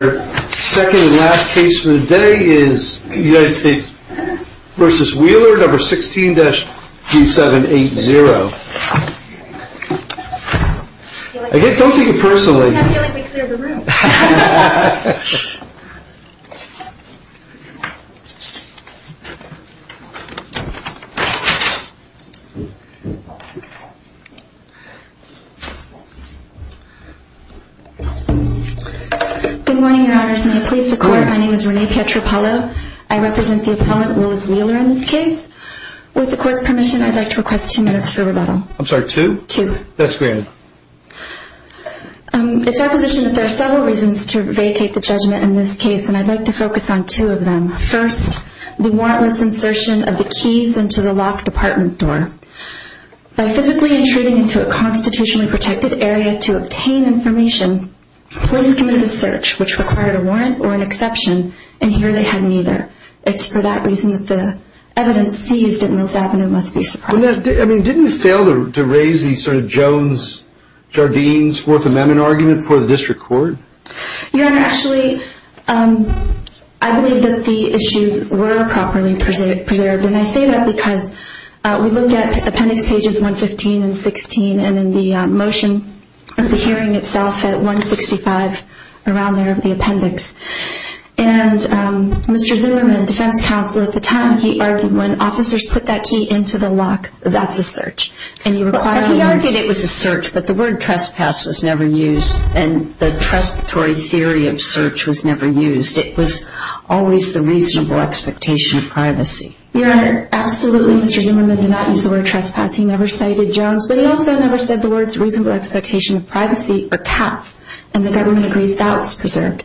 The second and last case for the day is United States v. Wheeler, number 16-2780. I don't think you personally... I have a feeling we cleared the room. Good morning, your honors. May it please the court, my name is Renee Pietropalo. I represent the appellant, Willis Wheeler, in this case. With the court's permission, I'd like to request two minutes for rebuttal. I'm sorry, two? Two. That's great. It's our position that there are several reasons to vacate the judgment in this case, and I'd like to focus on two of them. First, the warrantless insertion of the keys into the locked apartment door. By physically intruding into a constitutionally protected area to obtain information, police committed a search which required a warrant or an exception, and here they had neither. It's for that reason that the evidence seized at Mills Avenue must be suppressed. I mean, didn't you fail to raise the sort of Jones-Jardine's Fourth Amendment argument for the district court? Your honor, actually, I believe that the issues were properly preserved, and I say that because we look at appendix pages 115 and 16, and in the motion of the hearing itself at 165 around there of the appendix. And Mr. Zimmerman, defense counsel at the time, he argued when officers put that key into the lock, that's a search. He argued it was a search, but the word trespass was never used, and the trespass theory of search was never used. It was always the reasonable expectation of privacy. Your honor, absolutely, Mr. Zimmerman did not use the word trespass. He never cited Jones, but he also never said the words reasonable expectation of privacy or pass, and the government agrees that was preserved.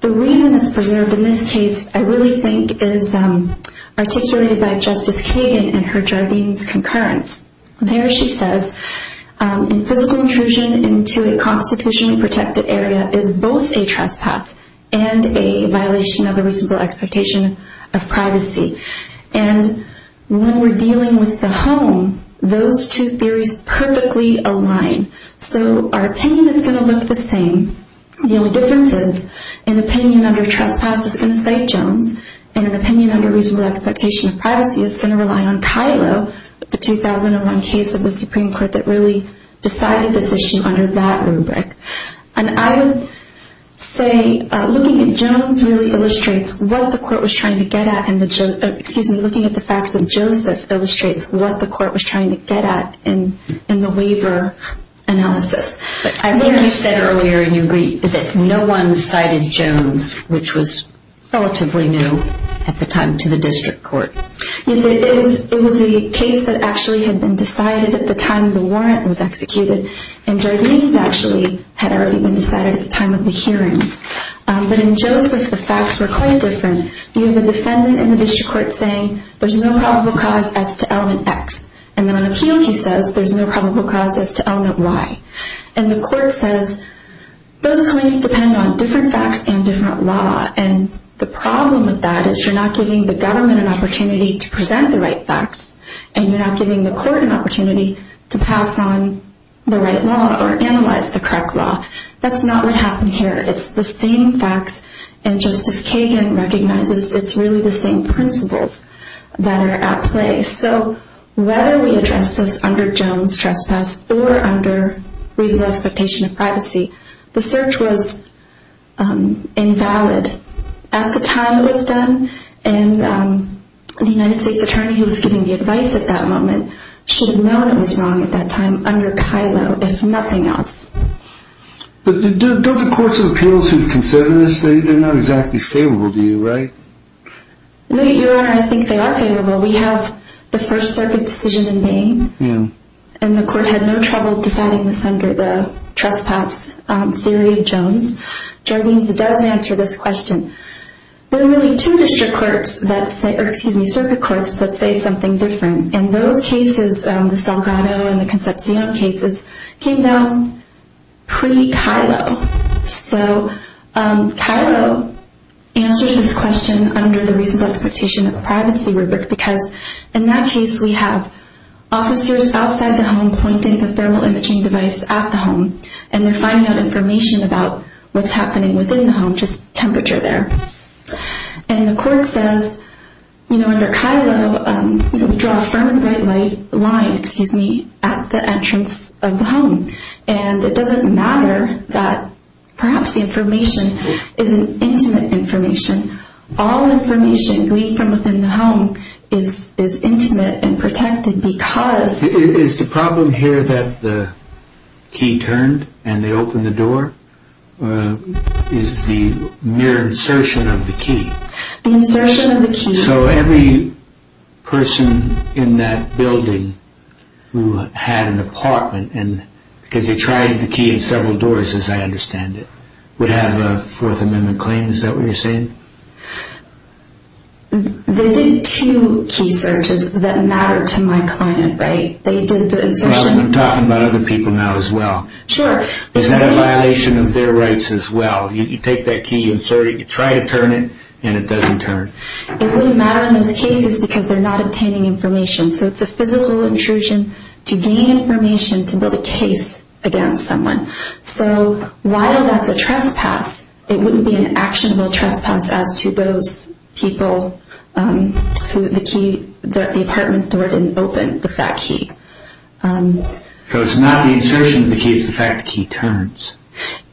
The reason it's preserved in this case I really think is articulated by Justice Kagan in her Jardine's concurrence. There she says, in physical intrusion into a constitutionally protected area is both a trespass and a violation of the reasonable expectation of privacy. And when we're dealing with the home, those two theories perfectly align. So our opinion is going to look the same. The only difference is an opinion under trespass is going to cite Jones, and an opinion under reasonable expectation of privacy is going to rely on Kylo, the 2001 case of the Supreme Court that really decided this issue under that rubric. And I would say looking at Jones really illustrates what the court was trying to get at, and looking at the facts of Joseph illustrates what the court was trying to get at in the waiver analysis. I think you said earlier in your brief that no one cited Jones, which was relatively new at the time to the district court. Yes, it was a case that actually had been decided at the time the warrant was executed, and Jardine's actually had already been decided at the time of the hearing. But in Joseph, the facts were quite different. You have a defendant in the district court saying there's no probable cause as to element X, and then on appeal he says there's no probable cause as to element Y. And the court says those claims depend on different facts and different law, and the problem with that is you're not giving the government an opportunity to present the right facts, and you're not giving the court an opportunity to pass on the right law or analyze the correct law. That's not what happened here. It's the same facts, and Justice Kagan recognizes it's really the same principles that are at play. So whether we address this under Jones' trespass or under reasonable expectation of privacy, the search was invalid at the time it was done, and the United States attorney who was giving the advice at that moment should have known it was wrong at that time under Kylo, if nothing else. But don't the courts of appeals who consider this, they're not exactly favorable to you, right? No, Your Honor, I think they are favorable. We have the First Circuit decision in Maine, and the court had no trouble deciding this under the trespass theory of Jones. Jardines does answer this question. There are really two district courts that say, or excuse me, circuit courts that say something different, and those cases, the Salgado and the Concepcion cases, came down pre-Kylo. So Kylo answers this question under the reasonable expectation of privacy rubric because in that case we have officers outside the home pointing the thermal imaging device at the home, and they're finding out information about what's happening within the home, just temperature there. And the court says, you know, under Kylo we draw a firm and bright line at the entrance of the home, and it doesn't matter that perhaps the information isn't intimate information. All information gleaned from within the home is intimate and protected because... Is the problem here that the key turned and they opened the door? Is the mere insertion of the key. The insertion of the key. So every person in that building who had an apartment, because they tried the key in several doors as I understand it, would have a Fourth Amendment claim, is that what you're saying? They did two key searches that mattered to my client, right? They did the insertion... I'm talking about other people now as well. Sure. Is that a violation of their rights as well? You take that key, you insert it, you try to turn it, and it doesn't turn. It wouldn't matter in those cases because they're not obtaining information. So it's a physical intrusion to gain information to build a case against someone. So while that's a trespass, it wouldn't be an actionable trespass as to those people who the apartment door didn't open with that key. So it's not the insertion of the key, it's the fact the key turns.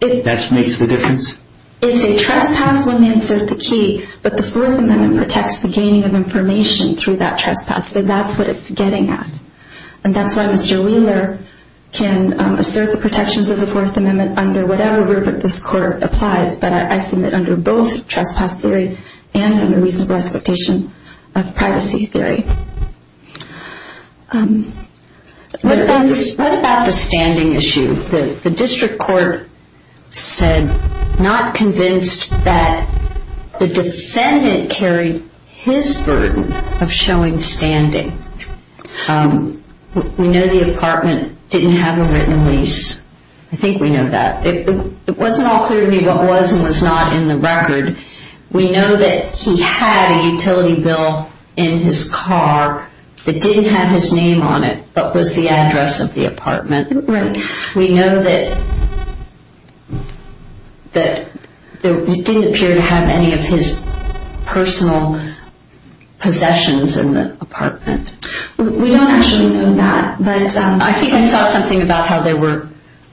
That's what makes the difference? It's a trespass when they insert the key, but the Fourth Amendment protects the gaining of information through that trespass. So that's what it's getting at. And that's why Mr. Wheeler can assert the protections of the Fourth Amendment under whatever rubric this Court applies, but I submit under both trespass theory and under reasonable expectation of privacy theory. What about the standing issue? The district court said not convinced that the defendant carried his burden of showing standing. We know the apartment didn't have a written lease. I think we know that. It wasn't all clear to me what was and was not in the record. We know that he had a utility bill in his car that didn't have his name on it, but was the address of the apartment. Right. We know that it didn't appear to have any of his personal possessions in the apartment. We don't actually know that, but... I think I saw something about how there were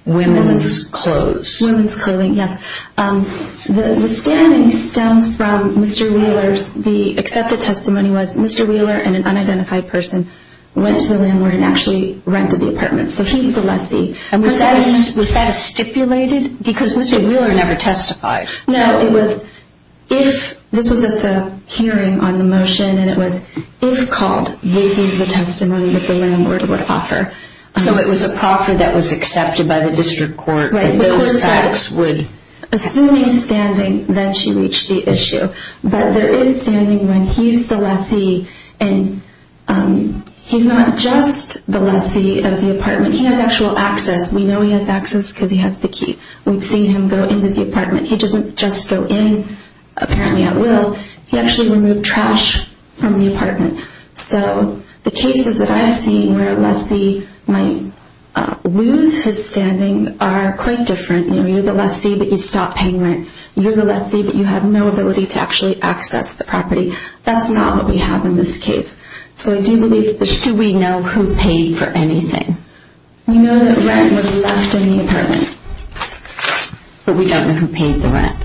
women's clothes. Women's clothing, yes. The standing stems from Mr. Wheeler's... The accepted testimony was Mr. Wheeler and an unidentified person went to the landlord and actually rented the apartment, so he's the lessee. Was that stipulated? Because Mr. Wheeler never testified. No, it was if... This was at the hearing on the motion, and it was if called, this is the testimony that the landlord would offer. So it was a proffer that was accepted by the district court, and those facts would... Assuming standing, then she reached the issue. But there is standing when he's the lessee, and he's not just the lessee of the apartment. He has actual access. We know he has access because he has the key. We've seen him go into the apartment. He doesn't just go in apparently at will. He actually removed trash from the apartment. So the cases that I've seen where a lessee might lose his standing are quite different. You're the lessee, but you stop paying rent. You're the lessee, but you have no ability to actually access the property. That's not what we have in this case. So do we know who paid for anything? We know that rent was left in the apartment, but we don't know who paid the rent.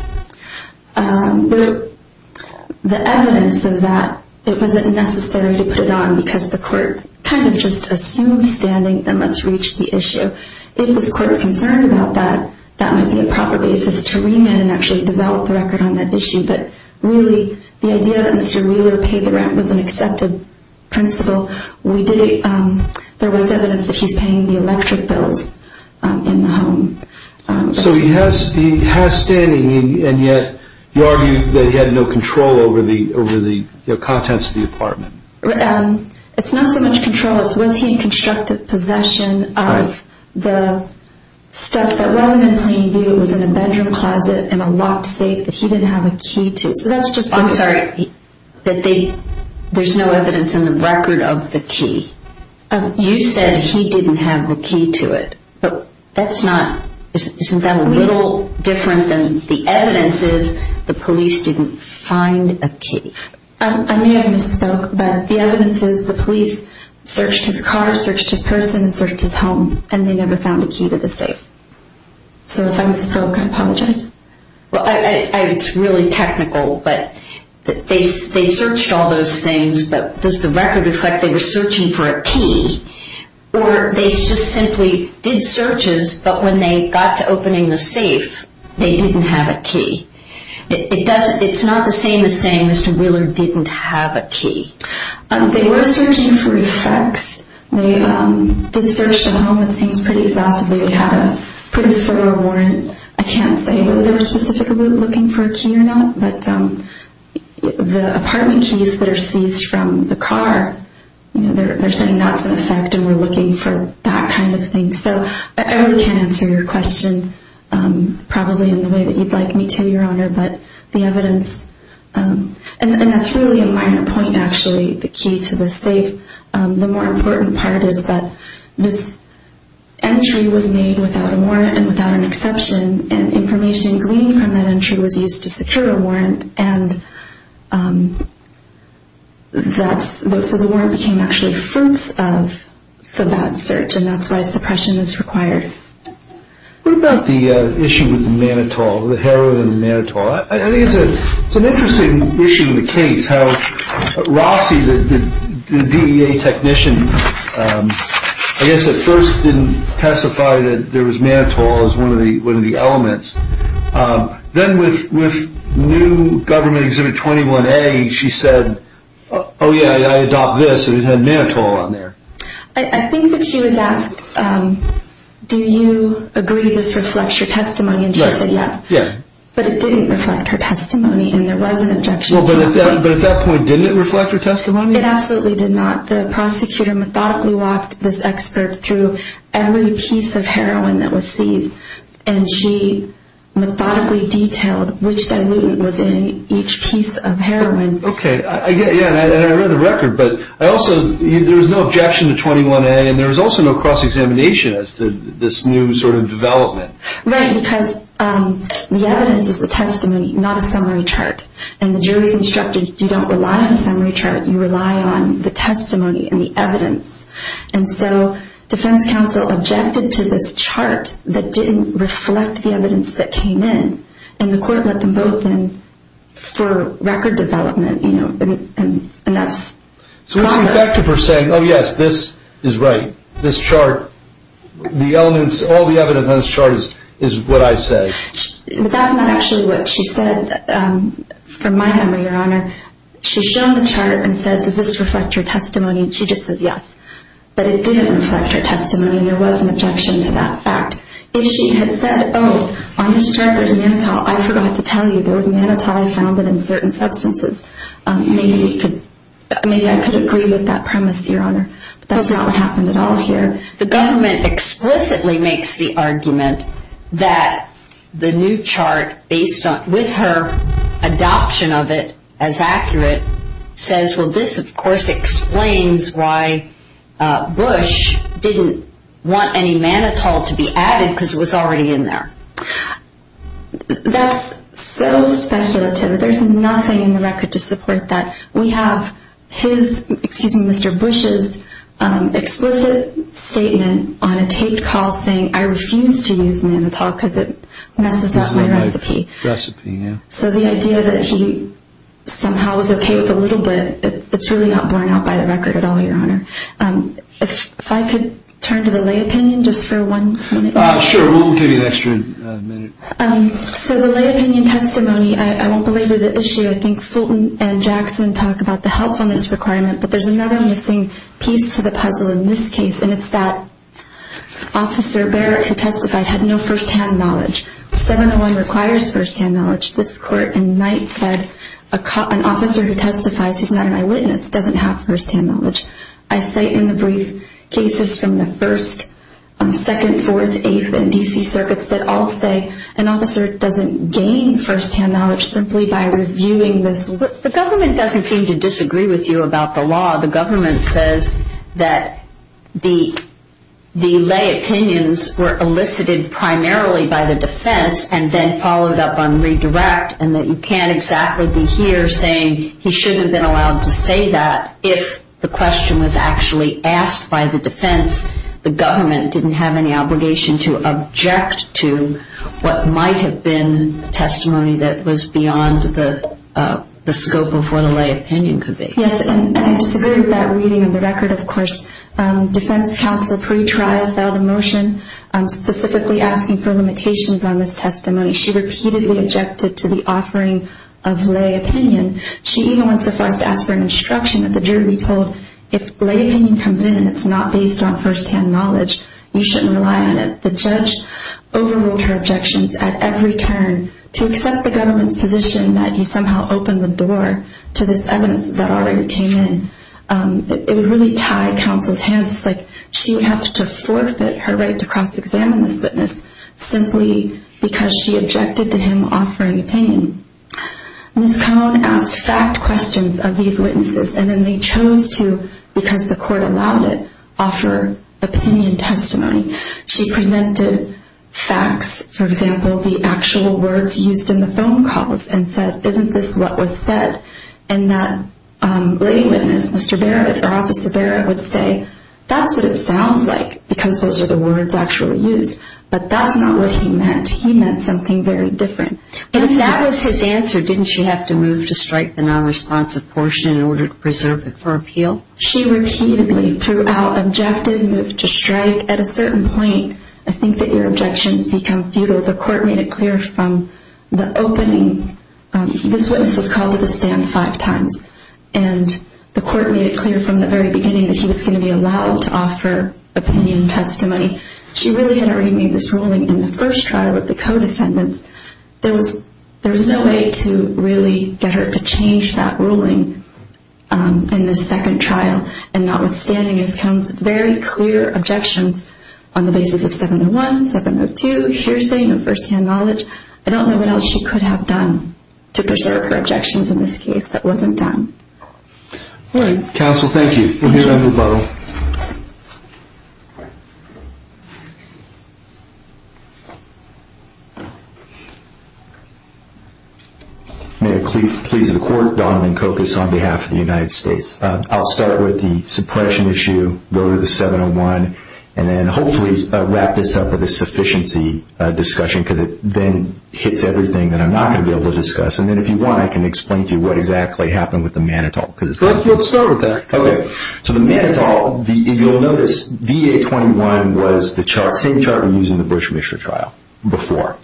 The evidence of that, it wasn't necessary to put it on because the court kind of just assumed standing, then let's reach the issue. If this court's concerned about that, that might be a proper basis to remit and actually develop the record on that issue. But really, the idea that Mr. Wheeler paid the rent was an accepted principle. There was evidence that he's paying the electric bills in the home. So he has standing, and yet you argue that he had no control over the contents of the apartment. It's not so much control. It's was he in constructive possession of the stuff that wasn't in plain view. It was in a bedroom closet in a locked safe that he didn't have a key to. I'm sorry, there's no evidence in the record of the key. You said he didn't have the key to it. Isn't that a little different than the evidence is the police didn't find a key? I may have misspoke, but the evidence is the police searched his car, searched his person, and searched his home, and they never found a key to the safe. So if I misspoke, I apologize. It's really technical, but they searched all those things, but does the record reflect they were searching for a key, or they just simply did searches, but when they got to opening the safe, they didn't have a key? It's not the same as saying Mr. Wheeler didn't have a key. They were searching for effects. They did search the home, it seems, pretty exhaustively. They had a pretty thorough warrant. I can't say whether they were specifically looking for a key or not, but the apartment keys that are seized from the car, they're saying that's an effect and we're looking for that kind of thing. So I really can't answer your question probably in the way that you'd like me to, Your Honor, but the evidence, and that's really a minor point, actually, the key to the safe. The more important part is that this entry was made without a warrant and without an exception, and information gleaned from that entry was used to secure a warrant, and so the warrant became actually fruits of the bad search, and that's why suppression is required. What about the issue with the mannitol, the heroin and the mannitol? I think it's an interesting issue in the case how Rossi, the DEA technician, I guess at first didn't testify that there was mannitol as one of the elements. Then with new government Exhibit 21A, she said, oh yeah, I adopt this, and it had mannitol on there. I think that she was asked, do you agree this reflects your testimony, and she said yes, but it didn't reflect her testimony, and there was an objection to it. But at that point, didn't it reflect her testimony? It absolutely did not. The prosecutor methodically walked this expert through every piece of heroin that was seized, and she methodically detailed which diluent was in each piece of heroin. Okay, and I read the record, but there was no objection to 21A, and there was also no cross-examination as to this new sort of development. Right, because the evidence is the testimony, not a summary chart, and the jury's instructed, you don't rely on a summary chart, you rely on the testimony and the evidence. And so, defense counsel objected to this chart that didn't reflect the evidence that came in, and the court let them both in for record development, and that's- So it's ineffective for saying, oh yes, this is right, this chart, the elements, all the evidence on this chart is what I say. But that's not actually what she said, from my memory, Your Honor. She showed the chart and said, does this reflect your testimony? And she just says, yes. But it didn't reflect her testimony, and there was an objection to that fact. If she had said, oh, on this chart there's mannitol, I forgot to tell you, there was mannitol, I found it in certain substances, maybe I could agree with that premise, Your Honor. But that's not what happened at all here. The government explicitly makes the argument that the new chart, with her adoption of it as accurate, says, well, this, of course, explains why Bush didn't want any mannitol to be added because it was already in there. That's so speculative. There's nothing in the record to support that. We have his, excuse me, Mr. Bush's explicit statement on a taped call saying, I refuse to use mannitol because it messes up my recipe. So the idea that he somehow was okay with a little bit, it's really not borne out by the record at all, Your Honor. If I could turn to the lay opinion just for one minute. Sure, we'll give you an extra minute. So the lay opinion testimony, I won't belabor the issue. I think Fulton and Jackson talk about the helpfulness requirement, but there's another missing piece to the puzzle in this case, and it's that Officer Barrett who testified had no first-hand knowledge. 701 requires first-hand knowledge. This Court in Knight said an officer who testifies who's not an eyewitness doesn't have first-hand knowledge. There have been D.C. circuits that all say an officer doesn't gain first-hand knowledge simply by reviewing this. The government doesn't seem to disagree with you about the law. The government says that the lay opinions were elicited primarily by the defense and then followed up on redirect, and that you can't exactly be here saying he shouldn't have been allowed to say that if the question was actually asked by the defense. The government didn't have any obligation to object to what might have been testimony that was beyond the scope of what a lay opinion could be. Yes, and I disagree with that reading of the record, of course. Defense counsel pre-trial filed a motion specifically asking for limitations on this testimony. She repeatedly objected to the offering of lay opinion. She even went so far as to ask for an instruction that the jury be told if lay opinion comes in and it's not based on first-hand knowledge, you shouldn't rely on it. The judge overruled her objections at every turn to accept the government's position that if you somehow open the door to this evidence that already came in, it would really tie counsel's hands. It's like she would have to forfeit her right to cross-examine this witness simply because she objected to him offering opinion. Ms. Cohen asked fact questions of these witnesses, and then they chose to, because the court allowed it, offer opinion testimony. She presented facts, for example, the actual words used in the phone calls, and said, isn't this what was said? And that lay witness, Mr. Barrett, or Officer Barrett, would say, that's what it sounds like because those are the words actually used. But that's not what he meant. He meant something very different. If that was his answer, didn't she have to move to strike the nonresponsive portion in order to preserve it for appeal? She repeatedly, throughout, objected, moved to strike. At a certain point, I think that your objections become futile. The court made it clear from the opening. This witness was called to the stand five times, and the court made it clear from the very beginning that he was going to be allowed to offer opinion testimony. She really had already made this ruling in the first trial with the co-defendants. There was no way to really get her to change that ruling in the second trial. And notwithstanding his very clear objections on the basis of 701, 702, hearsay, no first-hand knowledge, I don't know what else she could have done to preserve her objections in this case that wasn't done. All right, counsel, thank you. We'll move on. May it please the court, Donovan Cocas on behalf of the United States. I'll start with the suppression issue, go to the 701, and then hopefully wrap this up with a sufficiency discussion because it then hits everything that I'm not going to be able to discuss. And then if you want, I can explain to you what exactly happened with the Manitoult. Let's start with that. Okay. So the Manitoult, if you'll notice, DA-21 was the same chart we used in the Bush-Mischer trial before.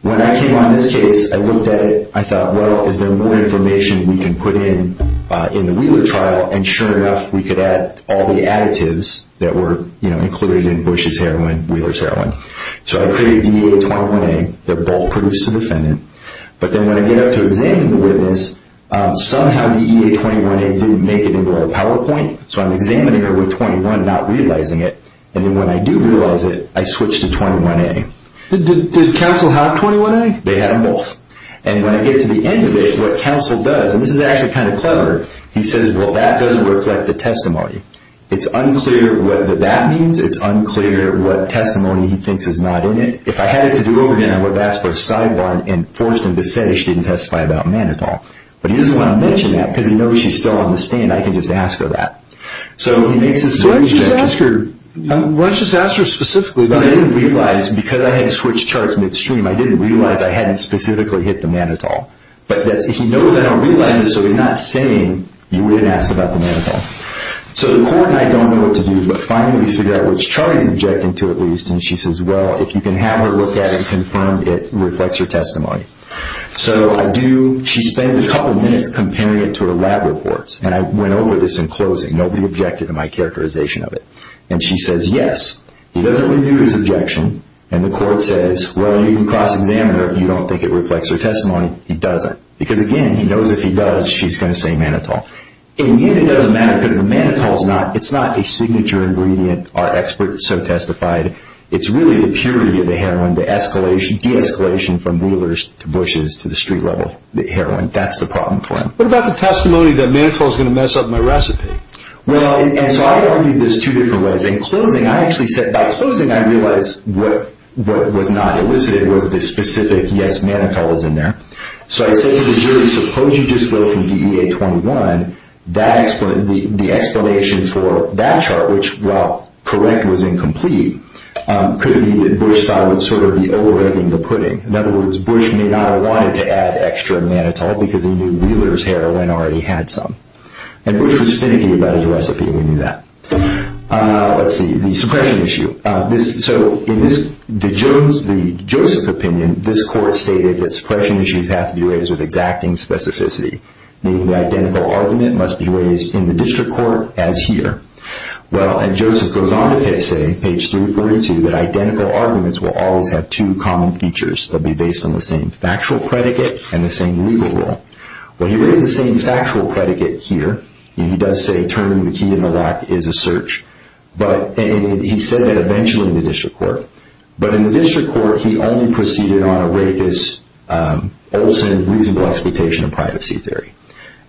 When I came on this case, I looked at it, I thought, well, is there more information we can put in in the Wheeler trial? And sure enough, we could add all the additives that were included in Bush's heroin, Wheeler's heroin. So I created DA-21A. They're both produced to the defendant. But then when I get up to examining the witness, somehow DA-21A didn't make it into our PowerPoint. So I'm examining her with 21, not realizing it. And then when I do realize it, I switch to 21A. Did counsel have 21A? They had them both. And when I get to the end of it, what counsel does, and this is actually kind of clever, he says, well, that doesn't reflect the testimony. It's unclear what that means. It's unclear what testimony he thinks is not in it. And if I had it to do over again, I would have asked for a sidebar and forced him to say she didn't testify about Manitou. But he doesn't want to mention that because he knows she's still on the stand. I can just ask her that. So he makes this big objection. Why don't you just ask her specifically? Because I didn't realize, because I had switched charts midstream, I didn't realize I hadn't specifically hit the Manitou. But he knows I don't realize it, so he's not saying you didn't ask about the Manitou. So the court and I don't know what to do. But finally we figure out which chart he's objecting to at least. And she says, well, if you can have her look at it and confirm it reflects her testimony. So I do. She spends a couple minutes comparing it to her lab reports. And I went over this in closing. Nobody objected to my characterization of it. And she says yes. He doesn't renew his objection. And the court says, well, you can cross-examine her if you don't think it reflects her testimony. He doesn't. Because, again, he knows if he does, she's going to say Manitou. And it doesn't matter because the Manitou is not a signature ingredient, our expert so testified. It's really the purity of the heroin, the de-escalation from Wheeler's to Bush's to the street level heroin. That's the problem for him. What about the testimony that Manitou is going to mess up my recipe? Well, and so I argued this two different ways. In closing, I actually said by closing I realized what was not elicited was the specific yes, Manitou is in there. So I said to the jury, suppose you just go from DEA 21. The explanation for that chart, which, while correct, was incomplete, could be that Bush thought it was sort of over-editing the pudding. In other words, Bush may not have wanted to add extra Manitou because he knew Wheeler's heroin already had some. And Bush was finicky about his recipe. We knew that. Let's see. The suppression issue. So in the Joseph opinion, this court stated that suppression issues have to be raised with exacting specificity, meaning the identical argument must be raised in the district court as here. Well, and Joseph goes on to say, page 342, that identical arguments will always have two common features. They'll be based on the same factual predicate and the same legal rule. Well, he raised the same factual predicate here. He does say turning the key in the lock is a search. And he said that eventually in the district court. But in the district court, he only proceeded on a rapist, Olson, reasonable expectation of privacy theory.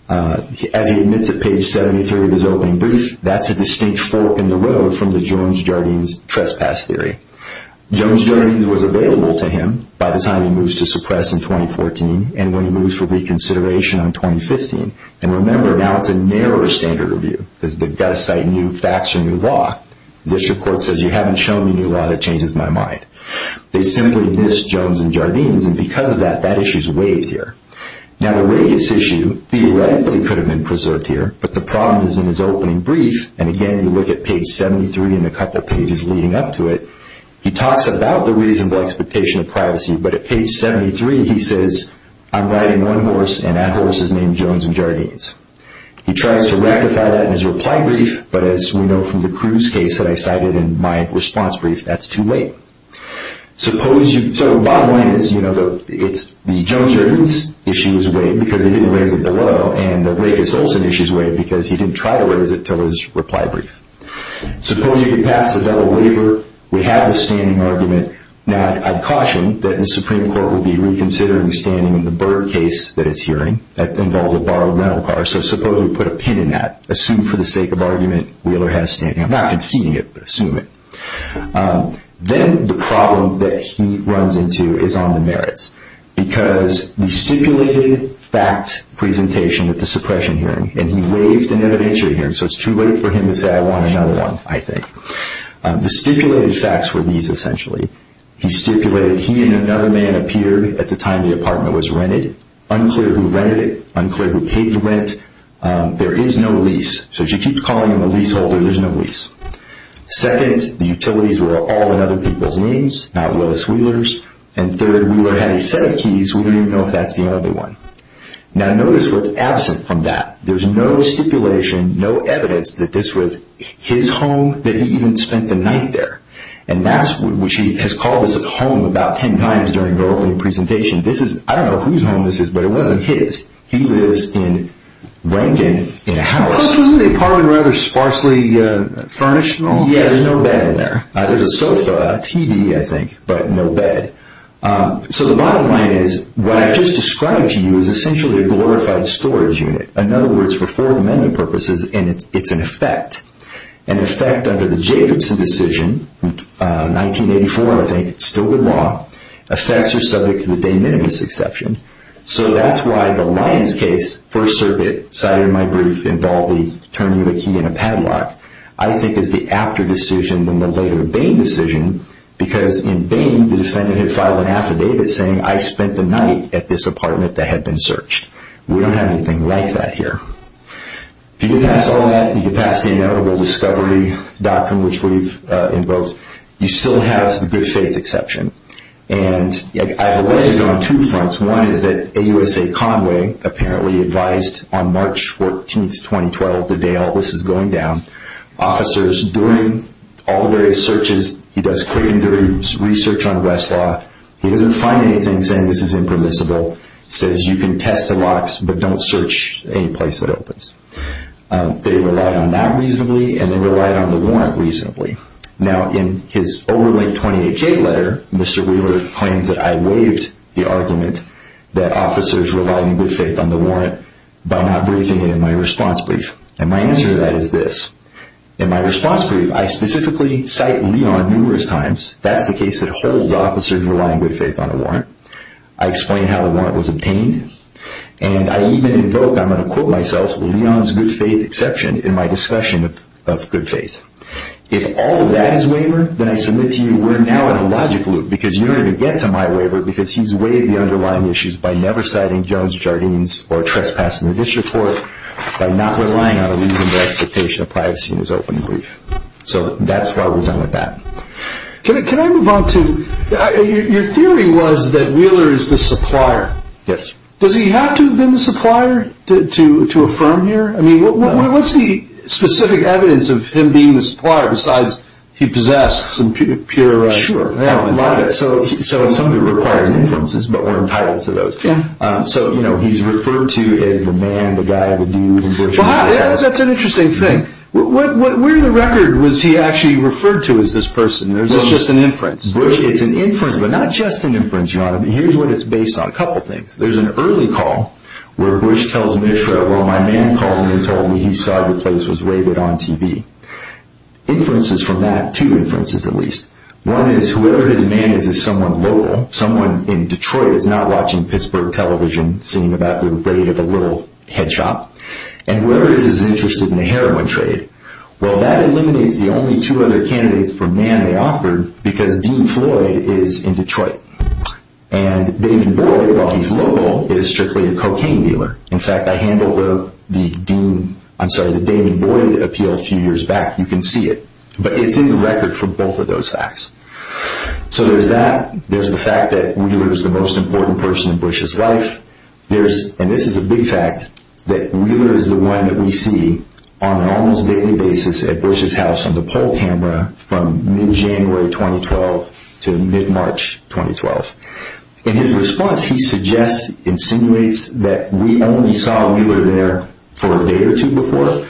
As he admits at page 73 of his opening brief, that's a distinct fork in the road from the Jones-Jardines trespass theory. Jones-Jardines was available to him by the time he moves to suppress in 2014 and when he moves for reconsideration in 2015. And remember, now it's a narrower standard review because they've got to cite new facts and new law. The district court says, you haven't shown me new law that changes my mind. They simply missed Jones-Jardines, and because of that, that issue is waived here. Now, the rageous issue theoretically could have been preserved here, but the problem is in his opening brief. And again, you look at page 73 and a couple of pages leading up to it. He talks about the reasonable expectation of privacy, but at page 73, he says, I'm riding one horse, and that horse is named Jones-Jardines. He tries to rectify that in his reply brief, but as we know from the Cruz case that I cited in my response brief, that's too late. So, bottom line is, the Jones-Jardines issue is waived because they didn't raise it below, and the rageous Olson issue is waived because he didn't try to raise it until his reply brief. Suppose you get past the double waiver, we have the standing argument. Now, I caution that the Supreme Court will be reconsidering standing in the Burr case that it's hearing. That involves a borrowed rental car, so suppose we put a pin in that. Assume for the sake of argument, Wheeler has standing. I'm not conceding it, but assume it. Then the problem that he runs into is on the merits, because the stipulated fact presentation at the suppression hearing, and he waived an evidentiary hearing, so it's too late for him to say, I want another one, I think. The stipulated facts were these, essentially. He stipulated he and another man appeared at the time the apartment was rented. Unclear who rented it. Unclear who paid the rent. There is no lease. So, as you keep calling him a leaseholder, there's no lease. Second, the utilities were all in other people's names, not Willis Wheeler's. And third, Wheeler had a set of keys, we don't even know if that's the only one. Now, notice what's absent from that. There's no stipulation, no evidence that this was his home, that he even spent the night there. And that's, which he has called this a home about ten times during the opening presentation. This is, I don't know whose home this is, but it wasn't his. He lives in, rented in a house. Plus, wasn't the apartment rather sparsely furnished and all? Yeah, there's no bed in there. There's a sofa, a TV, I think, but no bed. So, the bottom line is, what I just described to you is essentially a glorified storage unit. In other words, for four amendment purposes, and it's an effect. An effect under the Jacobson decision, 1984, I think, still good law. Effects are subject to the de minimis exception. So, that's why the Lyons case, first circuit, cited in my brief, involved the turning of a key in a padlock, I think is the after decision than the later Bain decision, because in Bain, the defendant had filed an affidavit saying, I spent the night at this apartment that had been searched. We don't have anything like that here. If you get past all that, you get past the notable discovery doctrine, which we've invoked, you still have the good faith exception. And I've alleged it on two fronts. One is that AUSA Conway apparently advised on March 14th, 2012, the day all this is going down, officers doing all the various searches, he does quick and dirty research on Westlaw, he doesn't find anything saying this is impermissible. He still says you can test the locks, but don't search any place that opens. They relied on that reasonably, and they relied on the warrant reasonably. Now, in his overlinked 28-J letter, Mr. Wheeler claims that I waived the argument that officers relied on good faith on the warrant by not briefing it in my response brief. And my answer to that is this. In my response brief, I specifically cite Lyons numerous times. I explain how the warrant was obtained, and I even invoke, I'm going to quote myself, Lyons' good faith exception in my discussion of good faith. If all of that is waiver, then I submit to you we're now in a logic loop, because you don't even get to my waiver because he's waived the underlying issues by never citing Jones, Jardines, or trespassing the district court, by not relying on a reasonable expectation of privacy in his open brief. So that's what we've done with that. Can I move on to, your theory was that Wheeler is the supplier. Yes. Does he have to have been the supplier to affirm here? I mean, what's the specific evidence of him being the supplier besides he possesses some pure evidence? Sure. So some of it requires inferences, but we're entitled to those. Yeah. So, you know, he's referred to as the man, the guy, the dude, and virtually everybody else. That's an interesting thing. Where in the record was he actually referred to as this person? It's just an inference. It's an inference, but not just an inference, John. Here's what it's based on, a couple of things. There's an early call where Bush tells Mishra, well, my man called me and told me he saw your place was raided on TV. Inferences from that, two inferences at least. One is whoever his man is is someone local, someone in Detroit that's not watching Pittsburgh television, seeing about the rate of a little head shop. And whoever it is is interested in the heroin trade. Well, that eliminates the only two other candidates for man they offered because Dean Floyd is in Detroit. And Damon Boyd, while he's local, is strictly a cocaine dealer. In fact, I handled the Dean, I'm sorry, the Damon Boyd appeal a few years back. You can see it. But it's in the record for both of those facts. So there's that. There's the fact that Wheeler is the most important person in Bush's life. And this is a big fact, that Wheeler is the one that we see on an almost daily basis at Bush's house on the poll camera from mid-January 2012 to mid-March 2012. In his response, he suggests, insinuates that we only saw Wheeler there for a day or two before.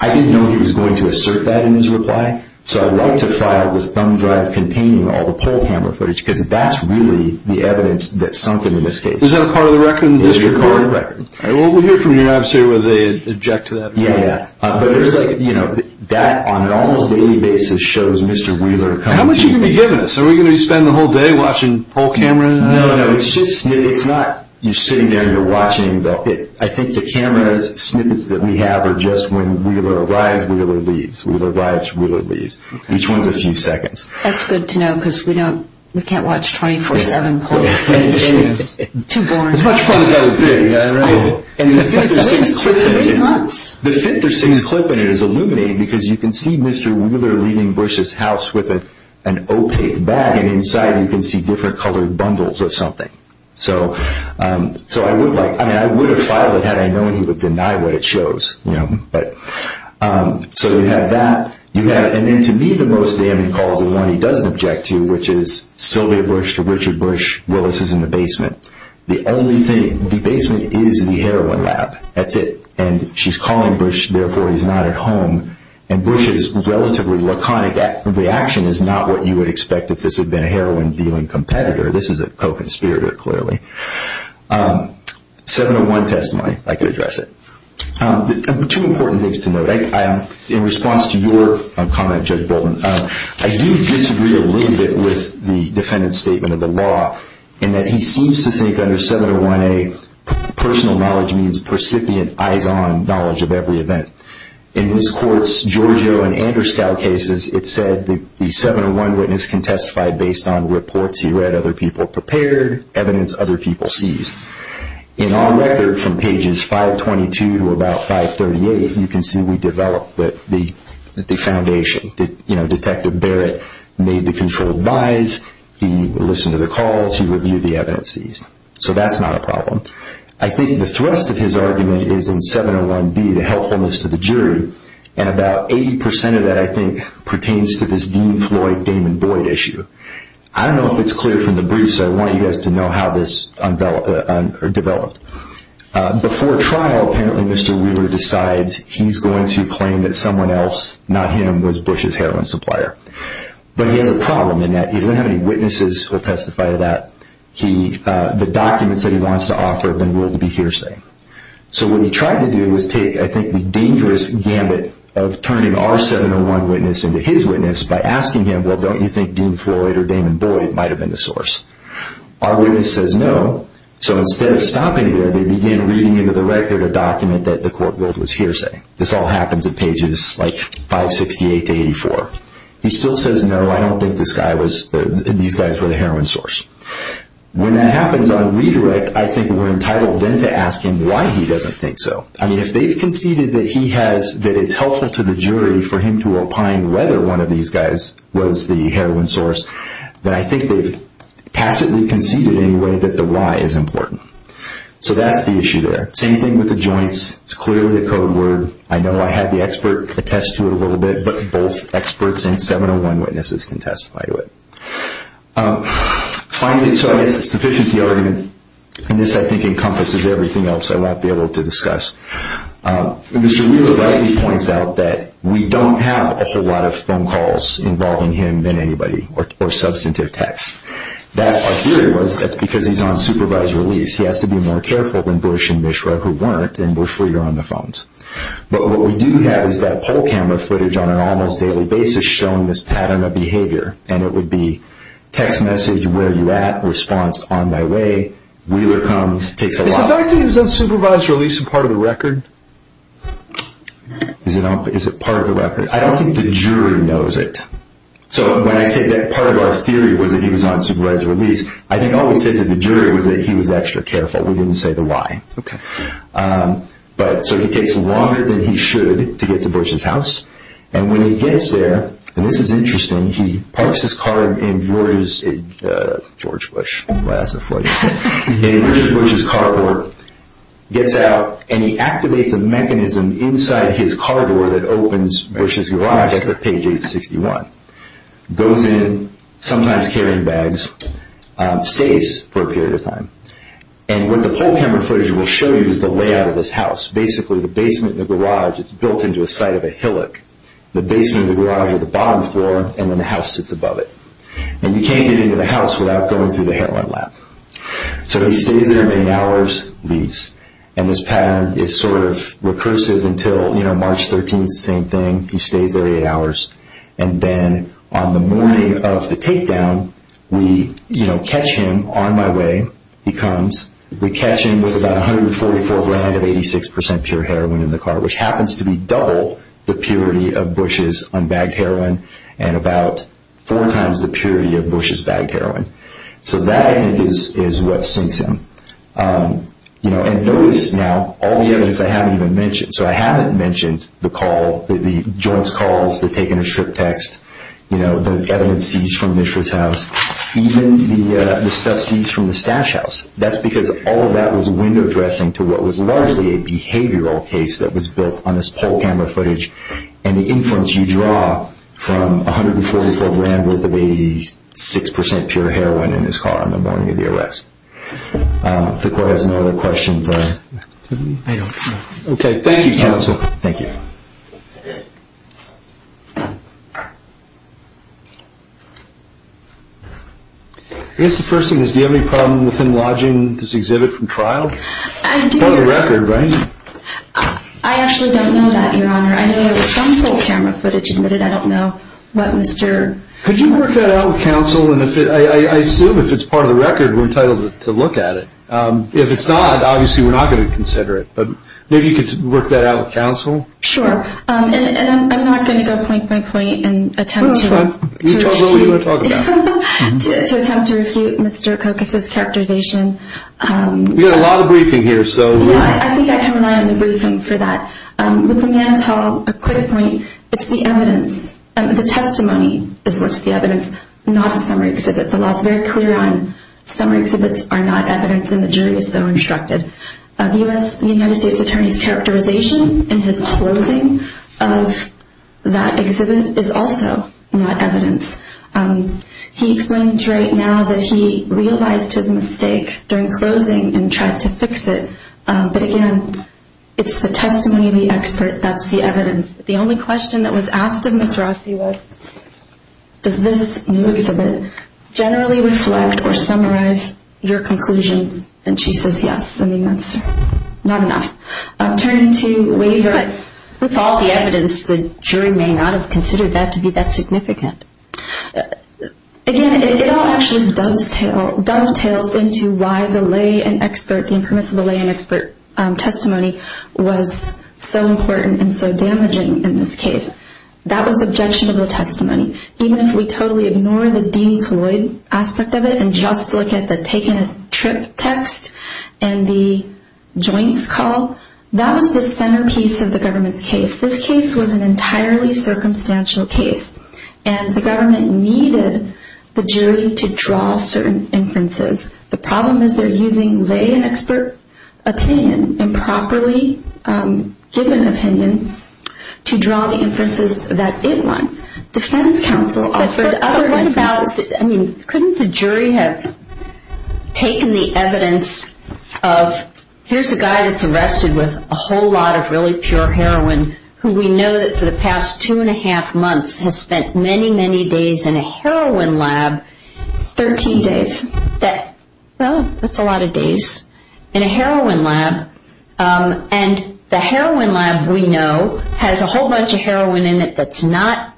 I didn't know he was going to assert that in his reply. So I'd like to file this thumb drive containing all the poll camera footage because that's really the evidence that sunk him in this case. Is that a part of the record in this report? It is a part of the record. Well, we'll hear from you, obviously, whether they object to that or not. Yeah, yeah. But there's like, you know, that on an almost daily basis shows Mr. Wheeler coming to me. How much are you going to be giving us? Are we going to be spending the whole day watching poll cameras? No, no, no. It's just snippets. It's not you sitting there and you're watching. I think the camera snippets that we have are just when Wheeler arrives, Wheeler leaves. Wheeler arrives, Wheeler leaves. Okay. Each one's a few seconds. That's good to know because we can't watch 24-7 poll footage. It's too boring. As much fun as that would be, right? The fifth or sixth clip in it is illuminating because you can see Mr. Wheeler leaving Bush's house with an opaque bag and inside you can see different colored bundles of something. So I would have filed it had I known he would deny what it shows. So you have that. And then to me the most damning cause and one he doesn't object to, which is Sylvia Bush to Richard Bush, Willis is in the basement. The only thing, the basement is the heroin lab. That's it. And she's calling Bush, therefore he's not at home. And Bush's relatively laconic reaction is not what you would expect if this had been a heroin dealing competitor. This is a co-conspirator, clearly. 701 testimony. I can address it. Two important things to note. In response to your comment, Judge Bolton, I do disagree a little bit with the defendant's statement of the law in that he seems to think under 701A personal knowledge means percipient eyes-on knowledge of every event. In his courts, Giorgio and Anderskow cases, it said the 701 witness can testify based on reports he read, other people prepared, evidence other people seized. In our record from pages 522 to about 538, you can see we developed the foundation. Detective Barrett made the controlled lies. He listened to the calls. He reviewed the evidences. So that's not a problem. I think the thrust of his argument is in 701B, the helpfulness to the jury, and about 80% of that I think pertains to this Dean Floyd, Damon Boyd issue. I don't know if it's clear from the brief, so I want you guys to know how this developed. Before trial, apparently Mr. Wheeler decides he's going to claim that someone else, not him, was Bush's heroin supplier. But he has a problem in that he doesn't have any witnesses who will testify to that. The documents that he wants to offer have been ruled to be hearsay. So what he tried to do was take, I think, the dangerous gambit of turning our 701 witness into his witness by asking him, well, don't you think Dean Floyd or Damon Boyd might have been the source? Our witness says no. So instead of stopping there, they began reading into the record a document that the court ruled was hearsay. This all happens at pages like 568 to 84. He still says, no, I don't think these guys were the heroin source. When that happens on redirect, I think we're entitled then to ask him why he doesn't think so. If they've conceded that it's helpful to the jury for him to opine whether one of these guys was the heroin source, then I think they've tacitly conceded anyway that the why is important. So that's the issue there. Same thing with the joints. It's clearly a code word. I know I had the expert attest to it a little bit, but both experts and 701 witnesses can testify to it. So I guess it's sufficient the argument, and this I think encompasses everything else I won't be able to discuss. Mr. Wheeler rightly points out that we don't have a whole lot of phone calls involving him than anybody or substantive text. Our theory was that's because he's on supervised release. He has to be more careful than Bush and Mishra, who weren't, and were freer on the phones. But what we do have is that poll camera footage on an almost daily basis showing this pattern of behavior, and it would be text message, where are you at? Response, on my way. Wheeler comes, takes a while. Is the fact that he was on supervised release a part of the record? Is it part of the record? I don't think the jury knows it. So when I say that part of our theory was that he was on supervised release, I think all we said to the jury was that he was extra careful. We didn't say the why. Okay. So he takes longer than he should to get to Bush's house, and when he gets there, and this is interesting, he parks his car in George's, George Bush. Classified. In George Bush's car door, gets out, and he activates a mechanism inside his car door that opens Bush's garage. That's at page 861. Goes in, sometimes carrying bags, stays for a period of time. And what the poll camera footage will show you is the layout of this house. Basically, the basement and the garage, it's built into a site of a hillock. The basement and the garage are the bottom floor, and then the house sits above it. And you can't get into the house without going through the heroin lab. So he stays there eight hours, leaves. And this pattern is sort of recursive until, you know, March 13th, same thing. He stays there eight hours, and then on the morning of the takedown, we, you know, catch him on my way. He comes. We catch him with about 144 grand of 86 percent pure heroin in the car, which happens to be double the purity of Bush's unbagged heroin and about four times the purity of Bush's bagged heroin. So that, I think, is what sinks him. You know, and notice now all the evidence I haven't even mentioned. So I haven't mentioned the call, the joints calls, the taken-as-trip text, you know, the evidence seized from the mistress' house, even the stuff seized from the stash house. That's because all of that was window dressing to what was largely a behavioral case that was built on this poll camera footage and the influence you draw from 144 grand worth of 86 percent pure heroin in his car on the morning of the arrest. If the court has no other questions. Okay. Thank you, counsel. Thank you. I guess the first thing is, do you have any problem with him lodging this exhibit from trial? I do. Part of the record, right? I actually don't know that, Your Honor. I know there was some poll camera footage in it. I don't know what Mr. Could you work that out with counsel? And I assume if it's part of the record, we're entitled to look at it. If it's not, obviously we're not going to consider it. But maybe you could work that out with counsel. Sure. And I'm not going to go point, point, point and attempt to refute Mr. Kokas' characterization. We've got a lot of briefing here. I think I can rely on the briefing for that. With the Manitou, a quick point. It's the evidence. The testimony is what's the evidence, not a summary exhibit. The law is very clear on summary exhibits are not evidence and the jury is so instructed. The United States Attorney's characterization in his closing of that exhibit is also not evidence. He explains right now that he realized his mistake during closing and tried to fix it. But, again, it's the testimony of the expert. That's the evidence. The only question that was asked of Ms. Rothi was, does this new exhibit generally reflect or summarize your conclusions? And she says yes. I mean, that's not enough. Turning to waiver. With all the evidence, the jury may not have considered that to be that significant. Again, it all actually dovetails into why the lay and expert, the impermissible lay and expert testimony was so important and so damaging in this case. That was objectionable testimony. Even if we totally ignore the Dean Floyd aspect of it and just look at the taken-trip text and the joints call, that was the centerpiece of the government's case. This case was an entirely circumstantial case. And the government needed the jury to draw certain inferences. The problem is they're using lay and expert opinion, improperly given opinion, to draw the inferences that it wants. Defense counsel offered other inferences. But what about, I mean, couldn't the jury have taken the evidence of, here's a guy that's arrested with a whole lot of really pure heroin, who we know that for the past two-and-a-half months has spent many, many days in a heroin lab. Thirteen days. That's a lot of days in a heroin lab. And the heroin lab, we know, has a whole bunch of heroin in it that's not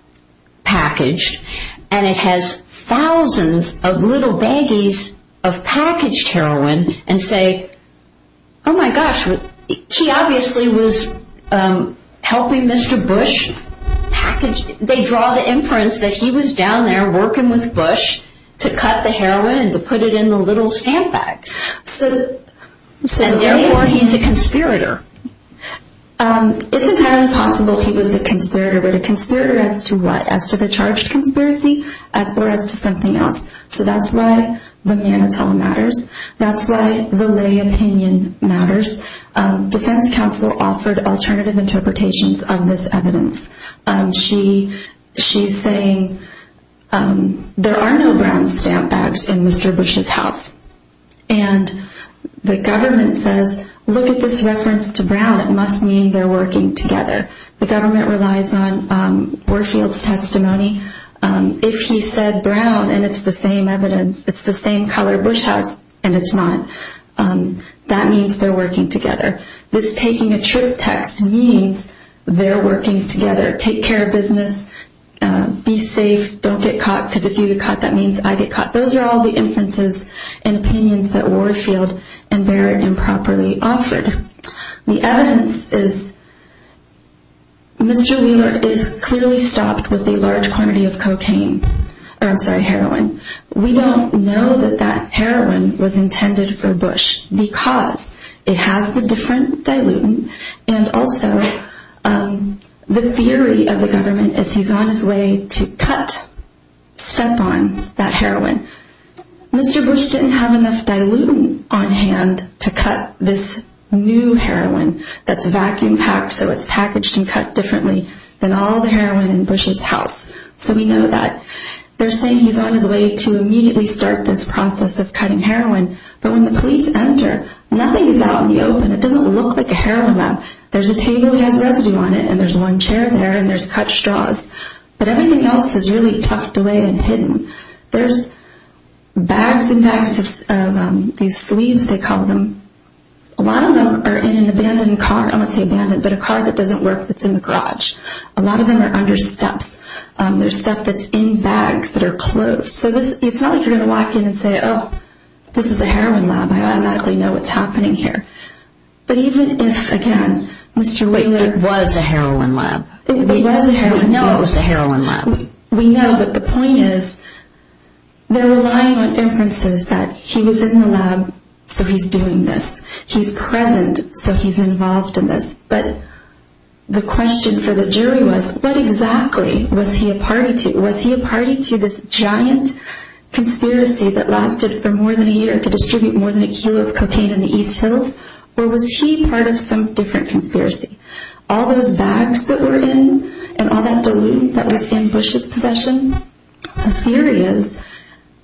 packaged. And it has thousands of little baggies of packaged heroin and say, oh, my gosh, he obviously was helping Mr. Bush package. They draw the inference that he was down there working with Bush to cut the heroin and to put it in the little stamp bags. And therefore, he's a conspirator. It's entirely possible he was a conspirator. But a conspirator as to what? As to the charged conspiracy or as to something else? So that's why the mannitol matters. That's why the lay opinion matters. Defense counsel offered alternative interpretations of this evidence. She's saying there are no brown stamp bags in Mr. Bush's house. And the government says, look at this reference to brown. It must mean they're working together. The government relies on Warfield's testimony. If he said brown and it's the same evidence, it's the same color Bush house and it's not, that means they're working together. This taking a trip text means they're working together. Take care of business. Be safe. Don't get caught because if you get caught, that means I get caught. Those are all the inferences and opinions that Warfield and Barrett improperly offered. The evidence is Mr. Wheeler is clearly stopped with a large quantity of cocaine. I'm sorry, heroin. We don't know that that heroin was intended for Bush because it has the different dilutant and also the theory of the government is he's on his way to cut, step on that heroin. Mr. Bush didn't have enough dilutant on hand to cut this new heroin that's vacuum packed so it's packaged and cut differently than all the heroin in Bush's house. So we know that. They're saying he's on his way to immediately start this process of cutting heroin. But when the police enter, nothing is out in the open. It doesn't look like a heroin lab. There's a table that has residue on it and there's one chair there and there's cut straws. But everything else is really tucked away and hidden. There's bags and bags of these sleeves, they call them. A lot of them are in an abandoned car. I won't say abandoned, but a car that doesn't work that's in the garage. A lot of them are under steps. There's stuff that's in bags that are closed. So it's not like you're going to walk in and say, oh, this is a heroin lab. I automatically know what's happening here. But even if, again, Mr. Wailer... It was a heroin lab. It was a heroin lab. We know it was a heroin lab. We know, but the point is they're relying on inferences that he was in the lab so he's doing this. He's present so he's involved in this. But the question for the jury was, what exactly was he a party to? Was he this giant conspiracy that lasted for more than a year to distribute more than a kilo of cocaine in the East Hills? Or was he part of some different conspiracy? All those bags that were in and all that dilutant that was in Bush's possession? The theory is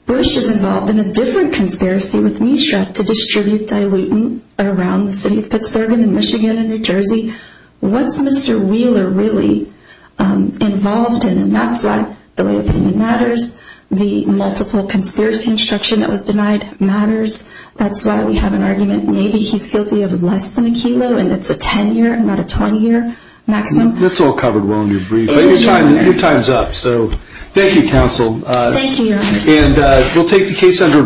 Bush is involved in a different conspiracy with Mishra to distribute dilutant around the city of Pittsburgh and Michigan and New Jersey. What's Mr. Wailer really involved in? And that's why the lay opinion matters. The multiple conspiracy instruction that was denied matters. That's why we have an argument maybe he's guilty of less than a kilo and it's a 10-year and not a 20-year maximum. That's all covered well in your brief. Your time's up, so thank you, counsel. Thank you, your honor. And we'll take the case under review.